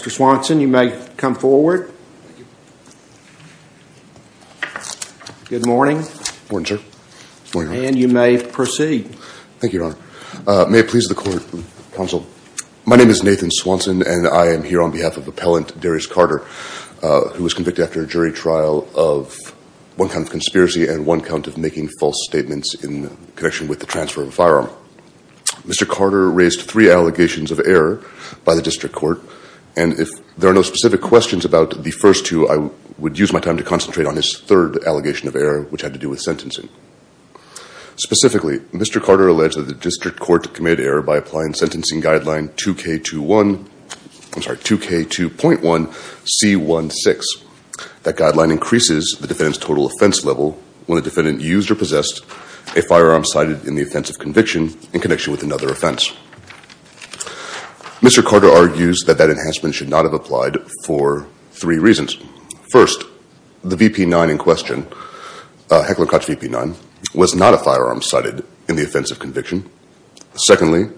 Mr. Swanson, you may come forward. Good morning, and you may proceed. Thank you, Your Honor. May it please the court, counsel. My name is Nathan Swanson and I am here on behalf of Appellant Darius Carter, who was convicted after a jury trial of one count of conspiracy and one count of making false statements in connection with the transfer of a firearm. Mr. Carter raised three allegations of error by the district court, and if there are no specific questions about the first two, I would use my time to concentrate on his third allegation of error, which had to do with sentencing. Specifically, Mr. Carter alleged that the district court committed error by applying sentencing guideline 2K2.1C16. That guideline increases the defendant's total offense level when the defendant used or possessed a firearm cited in the offensive conviction in connection with another offense. Mr. Carter argues that that enhancement should not have applied for three reasons. First, the VP9 in question, Heckler & Koch VP9, was not a firearm cited in the offensive conviction. Secondly,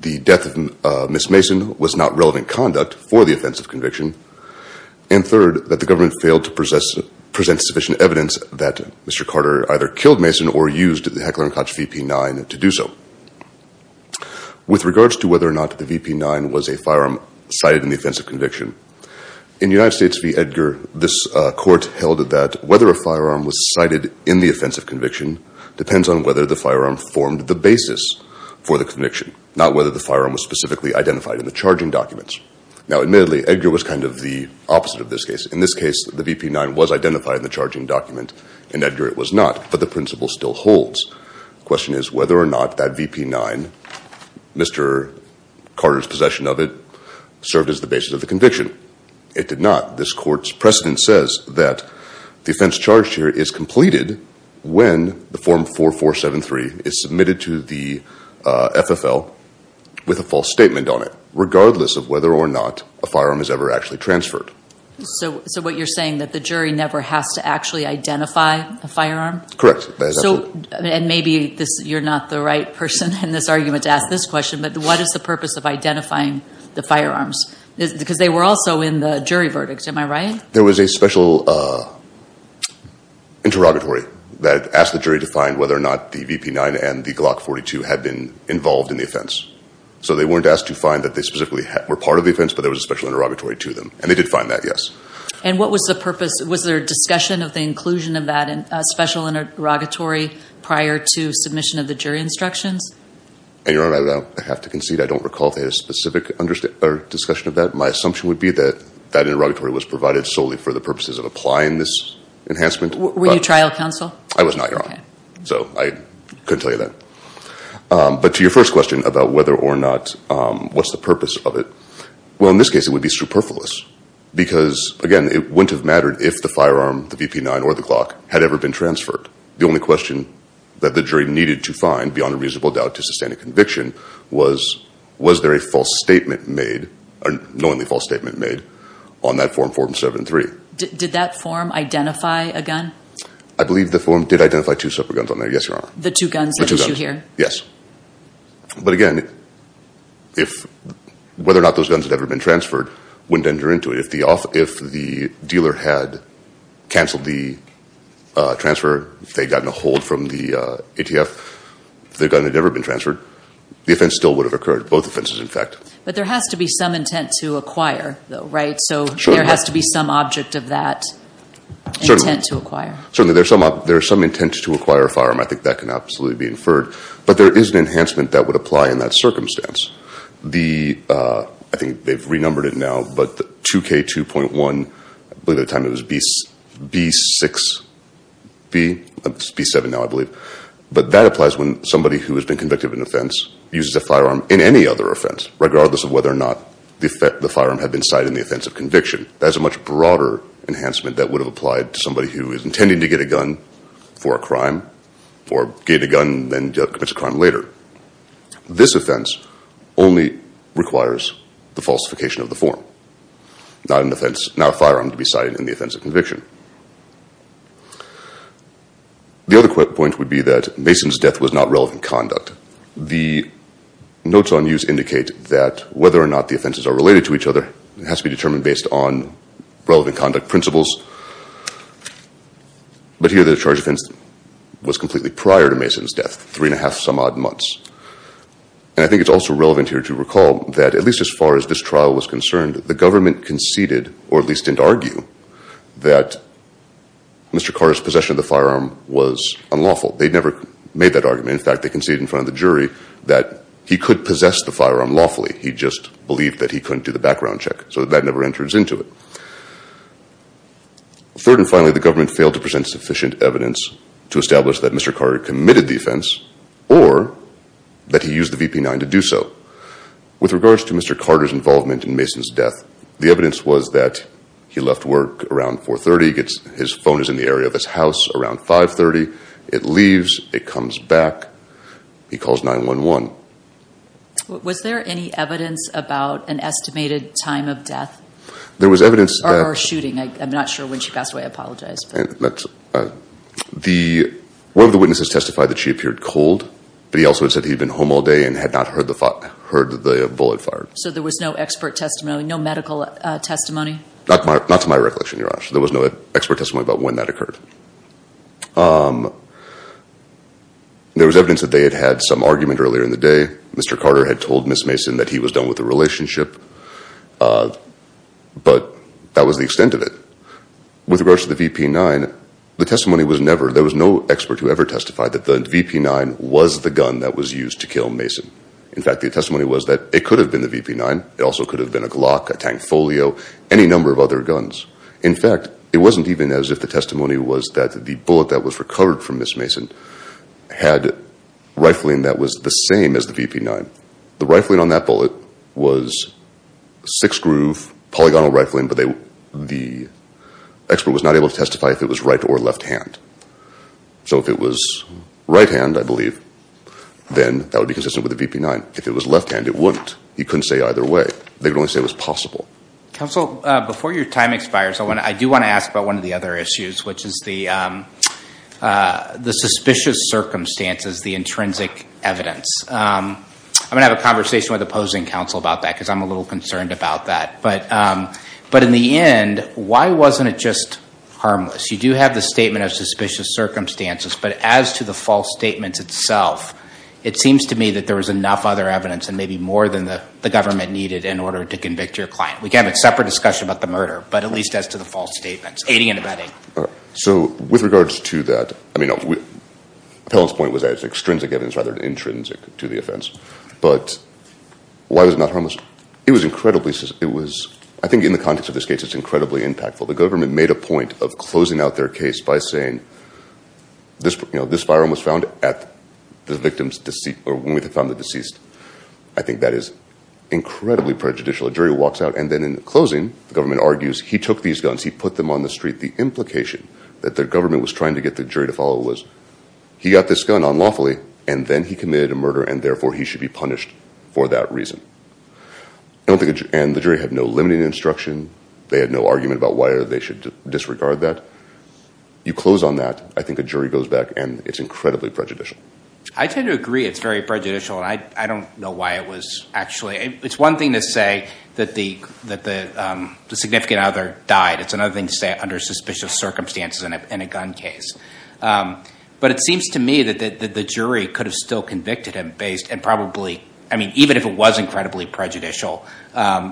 the death of Ms. Mason was not relevant conduct for the offensive conviction. And third, that the government failed to present sufficient evidence that Mr. Carter either killed Ms. Mason or used the Heckler & Koch VP9 to do so. With regards to whether or not the VP9 was a firearm cited in the offensive conviction, in United States v. Edgar, this court held that whether a firearm was cited in the offensive conviction depends on whether the firearm formed the basis for the conviction, not whether the firearm was specifically identified in the charging documents. Now, admittedly, Edgar was kind of the opposite of this case. In this case, the VP9 was identified in the charging document. In Edgar, it was not. But the principle still holds. The question is whether or not that VP9, Mr. Carter's possession of it, served as the basis of the conviction. It did not. This court's precedent says that the offense charged here is completed when the Form 4473 is submitted to the FFL with a false statement on it, regardless of whether or not a firearm is ever actually transferred. So what you're saying is that the jury never has to actually identify a firearm? Correct. And maybe you're not the right person in this argument to ask this question, but what is the purpose of identifying the firearms? Because they were also in the jury verdict, am I right? There was a special interrogatory that asked the jury to find whether or not the VP9 and the Glock 42 had been involved in the offense. So they weren't asked to find that they specifically were part of the offense, but there was a special interrogatory to them. And they did find that, yes. And what was the purpose? Was there a discussion of the inclusion of that special interrogatory prior to submission of the jury instructions? And Your Honor, I have to concede, I don't recall if they had a specific discussion of that. My assumption would be that that interrogatory was provided solely for the purposes of applying this enhancement. Were you trial counsel? I was not, Your Honor. So I couldn't tell you that. But to your first question about whether or not, what's the purpose of it? Well, in this case, it would be superfluous. Because again, it wouldn't have mattered if the firearm, the VP9 or the Glock had ever been transferred. The only question that the jury needed to find beyond a reasonable doubt to sustain a conviction was, was there a false statement made or knowingly false statement made on that form 473? Did that form identify a gun? I believe the form did identify two separate guns on there. Yes, Your Honor. The two guns that you hear? Yes. But again, if, whether or not those guns had ever been transferred, wouldn't enter into it. If the dealer had canceled the transfer, if they'd gotten a hold from the ATF, if the gun had ever been transferred, the offense still would have occurred. Both offenses, in fact. But there has to be some intent to acquire though, right? So there has to be some object of that intent to acquire. Certainly, there's some, there's some intent to acquire a firearm. I think that can absolutely be inferred. But there is an enhancement that would apply in that circumstance. The, I think they've renumbered it now, but the 2K2.1, I believe at the time it was B6B, B7 now, I believe. But that applies when somebody who has been convicted of an offense uses a firearm in any other offense, regardless of whether or not the firearm had been cited in the offense of conviction. That's a much different thing than pretending to get a gun for a crime, or get a gun and then commit a crime later. This offense only requires the falsification of the form. Not an offense, not a firearm to be cited in the offense of conviction. The other point would be that Mason's death was not relevant conduct. The notes on use indicate that whether or not the offenses are related to each other has to be determined based on relevant conduct principles. But here the charge of instance was completely prior to Mason's death, three and a half some odd months. And I think it's also relevant here to recall that at least as far as this trial was concerned, the government conceded, or at least didn't argue, that Mr. Carter's possession of the firearm was unlawful. They'd never made that argument. In fact, they conceded in front of the jury that he could possess the firearm lawfully. He just believed that he couldn't do the background check, so that never enters into it. Third and finally, the government failed to present sufficient evidence to establish that Mr. Carter committed the offense, or that he used the VP9 to do so. With regards to Mr. Carter's involvement in Mason's death, the evidence was that he left work around 4 30, his phone is in the area of his house around 5 30, it leaves, it comes back, he calls 9-1-1. Was there any evidence about an estimated time of death or shooting? I'm not sure when she passed away, I apologize. One of the witnesses testified that she appeared cold, but he also said he'd been home all day and had not heard the bullet fired. So there was no expert testimony, no medical testimony? Not to my recollection, Your Honor. There was no expert testimony about when that occurred. There was evidence that they had had some argument earlier in the day. Mr. Carter had told Miss Mason that he was done with the relationship, but that was the extent of it. With regards to the VP9, the testimony was never, there was no expert who ever testified that the VP9 was the gun that was used to kill Mason. In fact, the testimony was that it could have been the VP9, it also could have been a Glock, a Tankfolio, any number of other guns. In fact, it wasn't even as if the bullet that was recovered from Miss Mason had rifling that was the same as the VP9. The rifling on that bullet was six-groove polygonal rifling, but the expert was not able to testify if it was right or left hand. So if it was right hand, I believe, then that would be consistent with the VP9. If it was left hand, it wouldn't. He couldn't say either way. They could only say it was possible. Counsel, before your time expires, I do want to ask about one of the other issues, which is the suspicious circumstances, the intrinsic evidence. I'm going to have a conversation with opposing counsel about that because I'm a little concerned about that. But in the end, why wasn't it just harmless? You do have the statement of suspicious circumstances, but as to the false statements itself, it seems to me that there was enough other evidence and maybe more than the government needed in order to convict your client. We can have a separate discussion about the murder, but at least as to the false statements, aiding and abetting. All right. So with regards to that, I mean, Appellant's point was that it's extrinsic evidence rather than intrinsic to the offense, but why was it not harmless? It was incredibly... I think in the context of this case, it's incredibly impactful. The government made a point of closing out their case by saying, this firearm was found at the victim's deceased or when we found the deceased. I think that is incredibly prejudicial. A jury walks out and then in the closing, the government argues, he took these guns, he put them on the street. The implication that the government was trying to get the jury to follow was, he got this gun unlawfully and then he committed a murder and therefore he should be punished for that reason. And the jury had no limiting instruction. They had no argument about why they should disregard that. You close on that. I think a jury goes back and it's incredibly prejudicial. I tend to agree it's very prejudicial and I don't know why it was actually... It's one thing to say that the significant other died. It's another thing to say under suspicious circumstances in a gun case. But it seems to me that the jury could have still convicted him based and probably... I mean, even if it was incredibly prejudicial,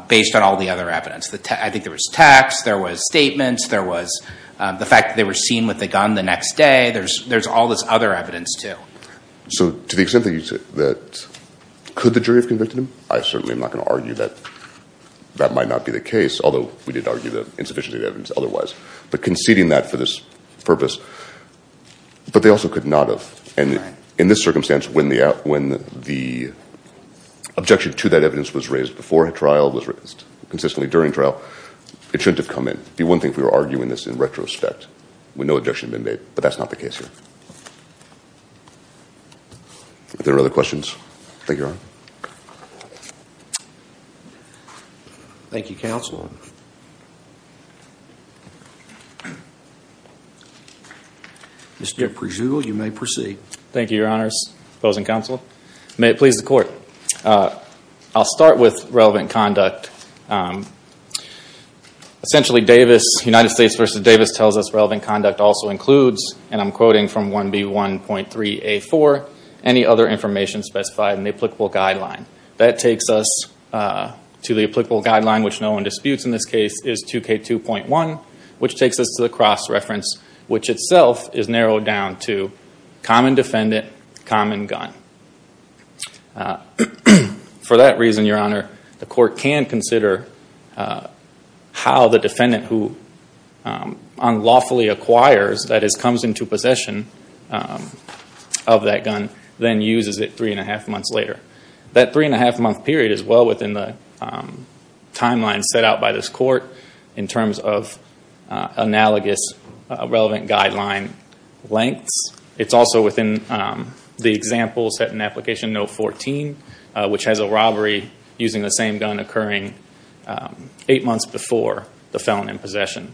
based on all the other evidence. I think there was texts, there was statements, there was the fact that they were seen with the gun the next day. There's all this other evidence too. So to the extent that you said that could the jury have convicted him? I certainly am not going to argue that that might not be the case, although we did argue the insufficiency of evidence otherwise, but conceding that for this purpose. But they also could not have. And in this circumstance, when the objection to that evidence was raised before a trial, was raised consistently during trial, it shouldn't have come in. It would be one thing if we were arguing this in retrospect, when no objection had been raised. There are other questions? Thank you, Your Honor. Thank you, Counsel. Mr. Prejugal, you may proceed. Thank you, Your Honors, Opposing Counsel. May it please the Court. I'll start with relevant conduct. Essentially Davis, United States v. Davis, tells us relevant conduct also includes, and I'm quoting from 1B1.3A4, any other information specified in the applicable guideline. That takes us to the applicable guideline, which no one disputes in this case, is 2K2.1, which takes us to the cross-reference, which itself is narrowed down to common defendant, common gun. For that reason, Your Honor, the Court can consider how the defendant who unlawfully acquires, that is, comes into possession of that gun, then uses it three and a half months later. That three and a half month period is well within the timeline set out by this Court, in terms of analogous relevant guideline lengths. It's also the example set in application note 14, which has a robbery using the same gun occurring eight months before the felon in possession.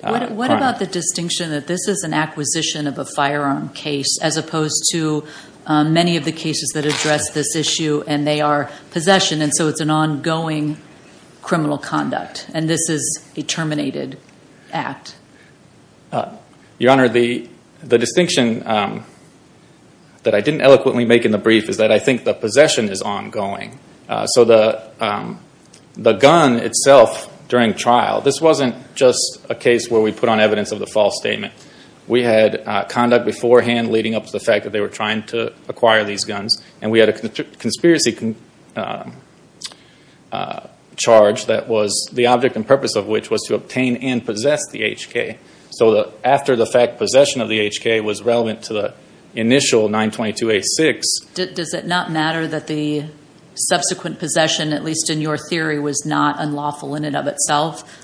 What about the distinction that this is an acquisition of a firearm case, as opposed to many of the cases that address this issue, and they are possession, and so it's an ongoing criminal conduct, and this is a terminated act? Your Honor, the distinction that I didn't eloquently make in the brief is that I think the possession is ongoing. The gun itself during trial, this wasn't just a case where we put on evidence of the false statement. We had conduct beforehand leading up to the fact that they were trying to acquire these guns, and we had a conspiracy charge that was the object and purpose of which was to obtain and possess the HK. After the fact, possession of the HK was relevant to the initial 922A6. Does it not matter that the subsequent possession, at least in your theory, was not unlawful in and of itself?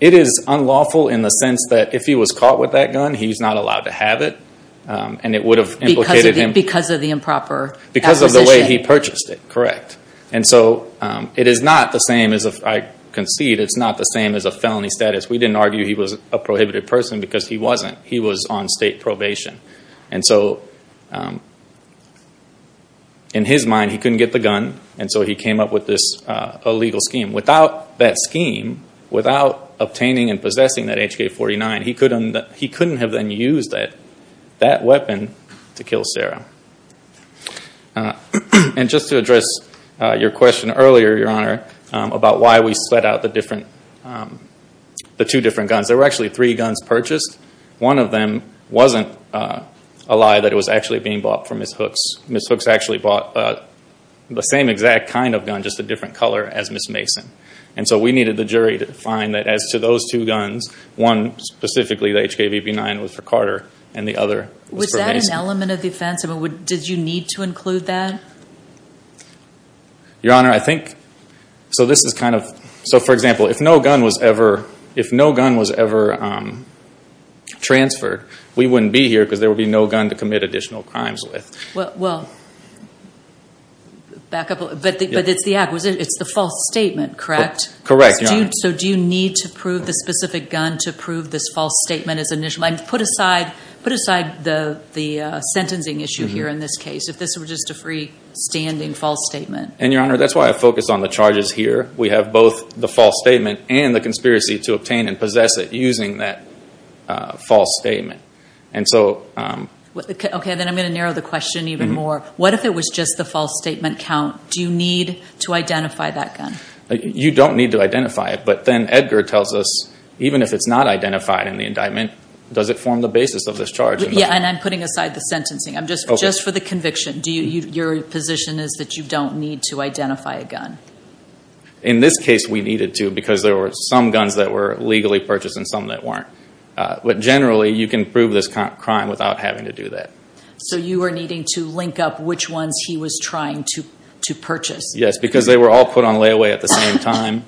It is unlawful in the sense that if he was caught with that gun, he's not allowed to have it, and it would have implicated him. Because of the improper acquisition? Because of the way he purchased it, correct. I concede it's not the same as a felony status. We didn't argue he was a prohibited person because he wasn't. He was on state probation. In his mind, he couldn't get the gun, and so he came up with this illegal scheme. Without that scheme, without obtaining and possessing that HK-49, he couldn't have then used that weapon to kill Sarah. And just to address your question earlier, Your Honor, about why we split out the two different guns, there were actually three guns purchased. One of them wasn't a lie that it was actually being bought for Ms. Hooks. Ms. Hooks actually bought the same exact kind of gun, just a different color, as Ms. Mason. And so we needed the jury to find that as to those two guns, one specifically, the HK-59, was for Carter, and the other was for Mason. Was that an element of the offense? Did you need to include that? Your Honor, I think, so this is kind of, so for example, if no gun was ever transferred, we wouldn't be here because there would be no gun to commit additional crimes with. Well, back up a little, but it's the acquisition, it's the false statement, correct? Correct, Your Honor. So do you need to prove the specific gun to prove this false statement as initial? I mean, put aside the sentencing issue here in this case, if this were just a freestanding false statement. And Your Honor, that's why I focused on the charges here. We have both the false statement and the conspiracy to obtain and possess it using that false statement. And so... Okay, then I'm going to narrow the question even more. What if it was just the false statement count? Do you need to identify that gun? You don't need to identify it, but then Edgar tells us, even if it's not identified in the indictment, does it form the basis of this charge? Yeah, and I'm putting aside the sentencing. Just for the conviction, your position is that you don't need to identify a gun? In this case, we needed to because there were some guns that were legally purchased and some that weren't. But generally, you can prove this crime without having to do that. So you were needing to link up which ones he was trying to purchase? Yes, because they were all put on layaway at the same time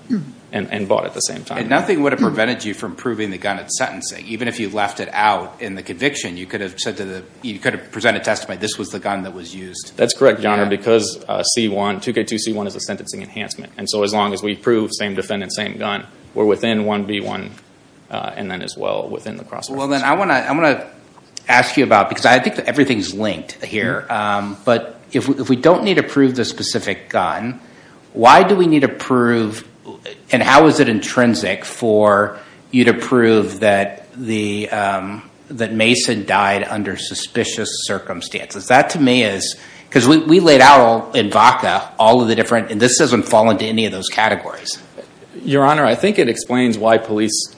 and bought at the same time. And nothing would have prevented you from proving the gun at sentencing. Even if you left it out in the conviction, you could have presented testimony, this was the gun that was used. That's correct, Your Honor, because 2K2C1 is a sentencing enhancement. And so as long as we prove same defendant, same gun, we're within 1B1 and then as well within the cross section. I want to ask you about, because I think everything's linked here, but if we don't need to prove the specific gun, why do we need to prove and how is it intrinsic for you to prove that Mason died under suspicious circumstances? That to me is, because we laid out in VACA all of the different, and this doesn't fall into any of those categories. Your Honor, I think it explains why police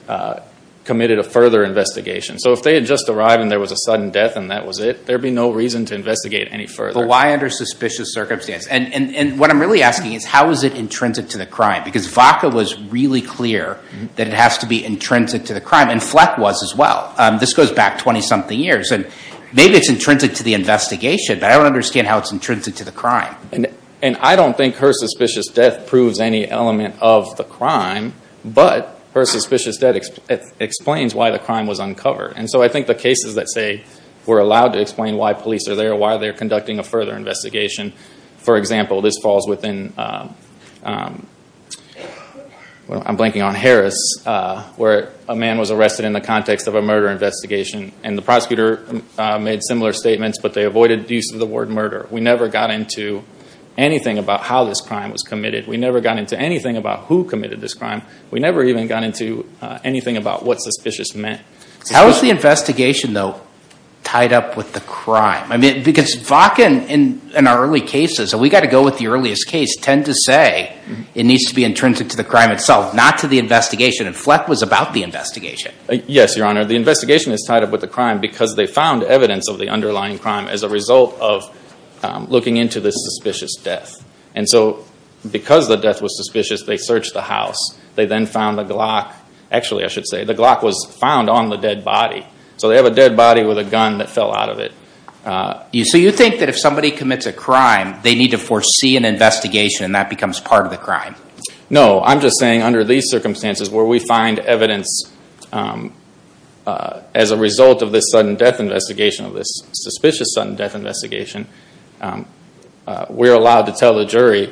committed a further investigation. So if they had just arrived and there was a sudden death and that was it, there'd be no reason to investigate any further. But why under suspicious circumstances? And what I'm really asking is how is it intrinsic to the crime? Because VACA was really clear that it has to be intrinsic to the crime and Fleck was as well. This goes back 20 something years and maybe it's intrinsic to the investigation, but I don't understand how it's intrinsic to the crime. And I don't think her suspicious death proves any element of the crime, but her suspicious death explains why the crime was uncovered. And so I think the cases that say we're allowed to explain why police are there, why they're conducting a further investigation, for example, this falls within, I'm blanking on Harris, where a man was arrested in the context of a murder investigation and the prosecutor made similar statements, but they avoided the use of the word murder. We never got into anything about how this crime was committed. We never got into anything about who committed this crime. We never even got into anything about what suspicious meant. How is the investigation though tied up with the crime? I mean, because VACA in our early cases, and we got to go with the earliest case, tend to say it needs to be intrinsic to the crime itself, not to the investigation. And Fleck was about the investigation. Yes, Your Honor. The investigation is tied up with the crime because they found evidence of underlying crime as a result of looking into this suspicious death. And so because the death was suspicious, they searched the house. They then found the Glock. Actually, I should say, the Glock was found on the dead body. So they have a dead body with a gun that fell out of it. So you think that if somebody commits a crime, they need to foresee an investigation and that becomes part of the crime? No, I'm just saying under these circumstances where we find evidence as a result of this sudden death investigation, of this suspicious sudden death investigation, we're allowed to tell the jury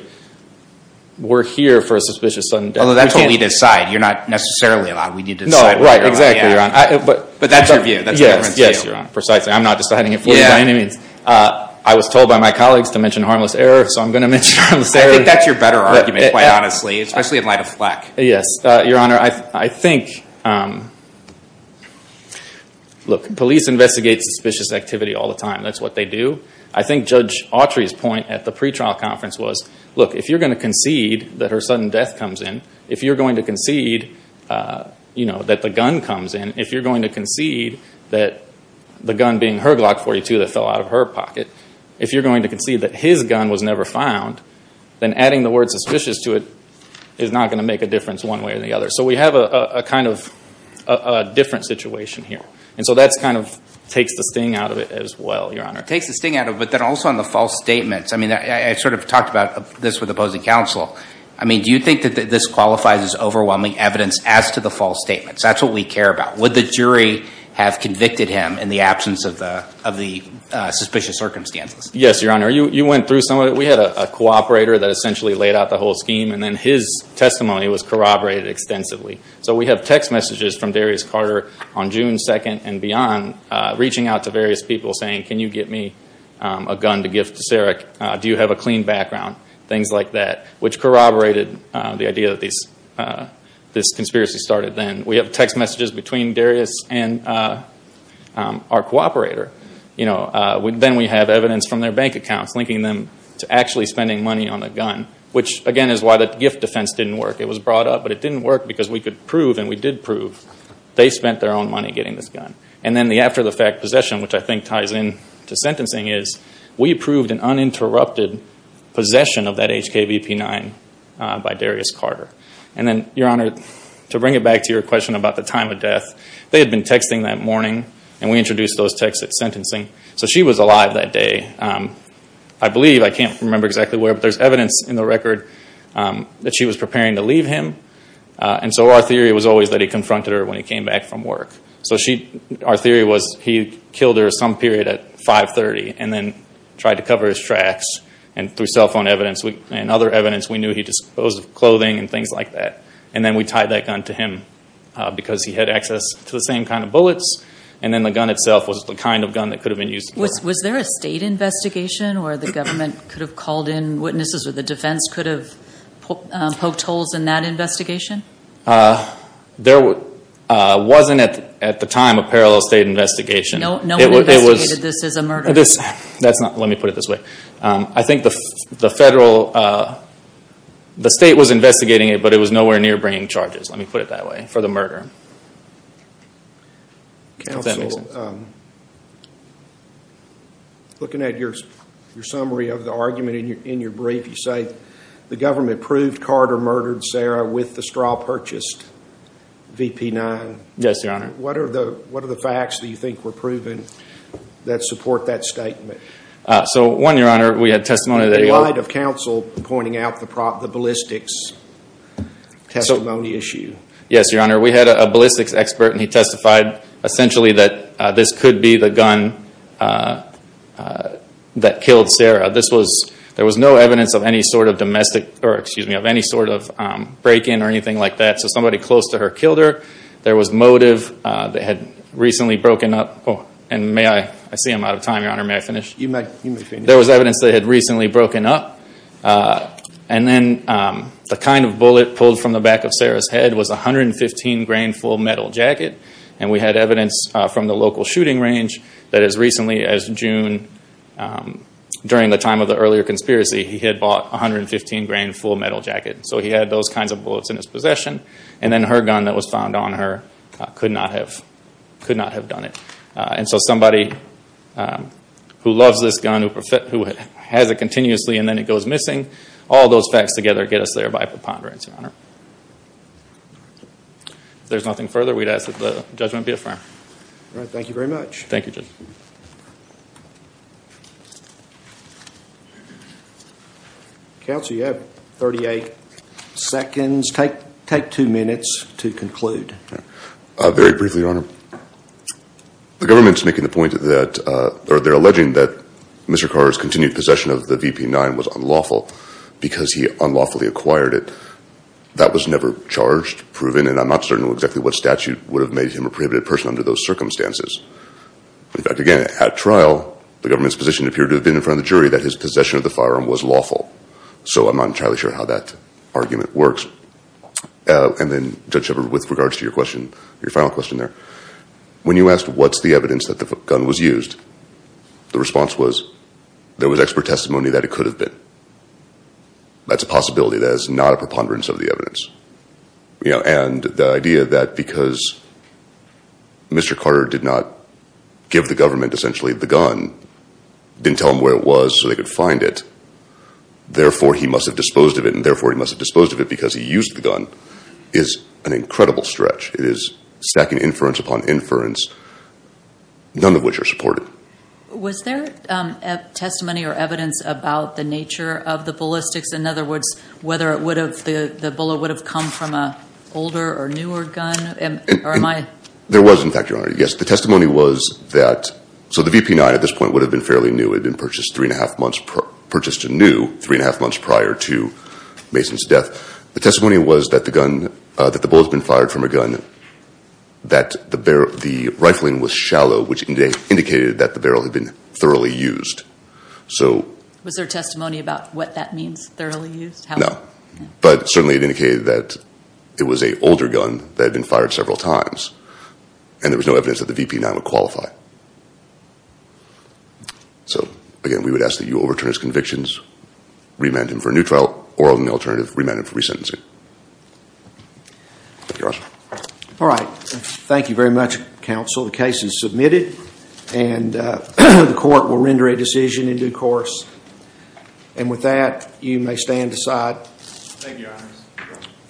we're here for a suspicious sudden death. Although that's what we decide. You're not necessarily allowed. We need to decide. No, right. Exactly, Your Honor. But that's your view. That's the difference too. Yes, Your Honor. Precisely. I'm not deciding it for you by any means. I was told by my colleagues to mention harmless error, so I'm going to mention harmless error. I think that's your better argument, quite honestly, especially in light of Fleck. Yes, Your Honor. I think, look, police investigate suspicious activity all the time. That's what they do. I think Judge Autry's point at the pretrial conference was, look, if you're going to concede that her sudden death comes in, if you're going to concede that the gun comes in, if you're going to concede that the gun being her Glock 42 that fell out of her pocket, if you're going to concede that his gun was never found, then adding the word suspicious to it is not going to make a difference one way or the other. So we have a kind of different situation here. And so that kind of takes the sting out of it as well, Your Honor. Takes the sting out of it, but then also on the false statements. I mean, I sort of talked about this with opposing counsel. I mean, do you think that this qualifies as overwhelming evidence as to the false statements? That's what we care about. Would the jury have convicted him in the absence of the suspicious circumstances? Yes, Your Honor. You went through some of it. We had a cooperator that essentially laid out the whole scheme, and then his testimony was corroborated extensively. So we have text messages from Darius Carter on June 2nd and beyond, reaching out to various people saying, can you get me a gun to gift to Sarah? Do you have a clean background? Things like that, which corroborated the idea that this conspiracy started then. We have text messages between Darius and our cooperator. Then we have evidence from their bank accounts linking them to actually spending money on the gun, which again is why the gift defense didn't work. It was brought up, but it didn't work because we could prove, and we did prove, they spent their own money getting this gun. And then the after-the-fact possession, which I think ties in to sentencing, is we proved an uninterrupted possession of that HKVP9 by Darius Carter. And then, Your Honor, to bring it back to your question about the time of death, they had been texting that morning, and we introduced those texts at sentencing. So she was alive that day. I believe, I can't remember exactly where, but there's evidence in the record that she was preparing to leave him. And so our theory was always that he confronted her when he came back from work. So our theory was he killed her some period at 5.30 and then tried to cover his tracks. And through cell phone evidence and other evidence, we knew he disposed of clothing and things like that. And then we tied that gun to him because he had access to the same kind of and then the gun itself was the kind of gun that could have been used. Was there a state investigation where the government could have called in witnesses or the defense could have poked holes in that investigation? There wasn't, at the time, a parallel state investigation. No one investigated this as a murder? That's not, let me put it this way. I think the federal, the state was investigating it, but it was nowhere near bringing charges, let me put it that way, for the murder. Counsel, looking at your summary of the argument in your brief, you say the government proved Carter murdered Sarah with the straw purchased VP-9. Yes, Your Honor. What are the facts that you think were proven that support that statement? So one, Your Honor, we had testimony that- In light of counsel pointing out the ballistics testimony issue. Yes, Your Honor, we had a ballistics expert and he testified essentially that this could be the gun that killed Sarah. This was, there was no evidence of any sort of domestic, or excuse me, of any sort of break-in or anything like that. So somebody close to her killed her. There was motive that had recently broken up. And may I, I see I'm out of time, Your Honor, may I finish? You may finish. There was evidence that had recently broken up. And then the kind of bullet pulled from the back of Sarah's head was a 115 grain full metal jacket. And we had evidence from the local shooting range that as recently as June, during the time of the earlier conspiracy, he had bought a 115 grain full metal jacket. So he had those kinds of bullets in his possession. And then her gun that was found on her could not have done it. And so somebody who loves this gun, who has it continuously and then it goes missing, all those facts together get us there by preponderance, Your Honor. If there's nothing further, we'd ask that the judgment be affirmed. All right, thank you very much. Thank you, Judge. Counsel, you have 38 seconds. Take two minutes to conclude. Very briefly, Your Honor. The government's making the point that, or they're alleging that Mr. Carr's continued possession of the VP9 was unlawful because he unlawfully acquired it. That was never charged, proven, and I'm not certain exactly what statute would have made him a prohibited person under those circumstances. In fact, again, at trial, the government's position appeared to have been in front of the jury that his possession of the firearm was lawful. So I'm not entirely sure how that argument works. And then, Judge Shepherd, with regards to your question, your final question there. When you asked what's the evidence that the gun was used, the response was there was expert testimony that it could have been. That's a possibility. That is not a preponderance of the evidence. And the idea that because Mr. Carter did not give the government, essentially, the gun, didn't tell them where it was so they could find it, therefore he must have disposed of it, and therefore he must have disposed of it because he used the gun, is an incredible stretch. It is stacking inference upon inference, none of which are supported. Was there testimony or evidence about the nature of the ballistics? In other words, whether the bullet would have come from an older or newer gun? There was, in fact, Your Honor. Yes, the testimony was that, so the VP9 at this point would have been fairly new. It had been purchased three and a half months, purchased new three and a half months prior to Mason's death. The testimony was that the bullet had been fired from a gun, that the rifling was shallow, which indicated that the barrel had been thoroughly used. Was there testimony about what that means, thoroughly used? No, but certainly it indicated that it was an older gun that had been fired several times, and there was no evidence that the VP9 would qualify. So, again, we would ask that you overturn his convictions, remand him for a new trial, or on the alternative, remand him for resentencing. All right. Thank you very much, counsel. The case is submitted, and the court will render a decision in due course. And with that, you may stand aside.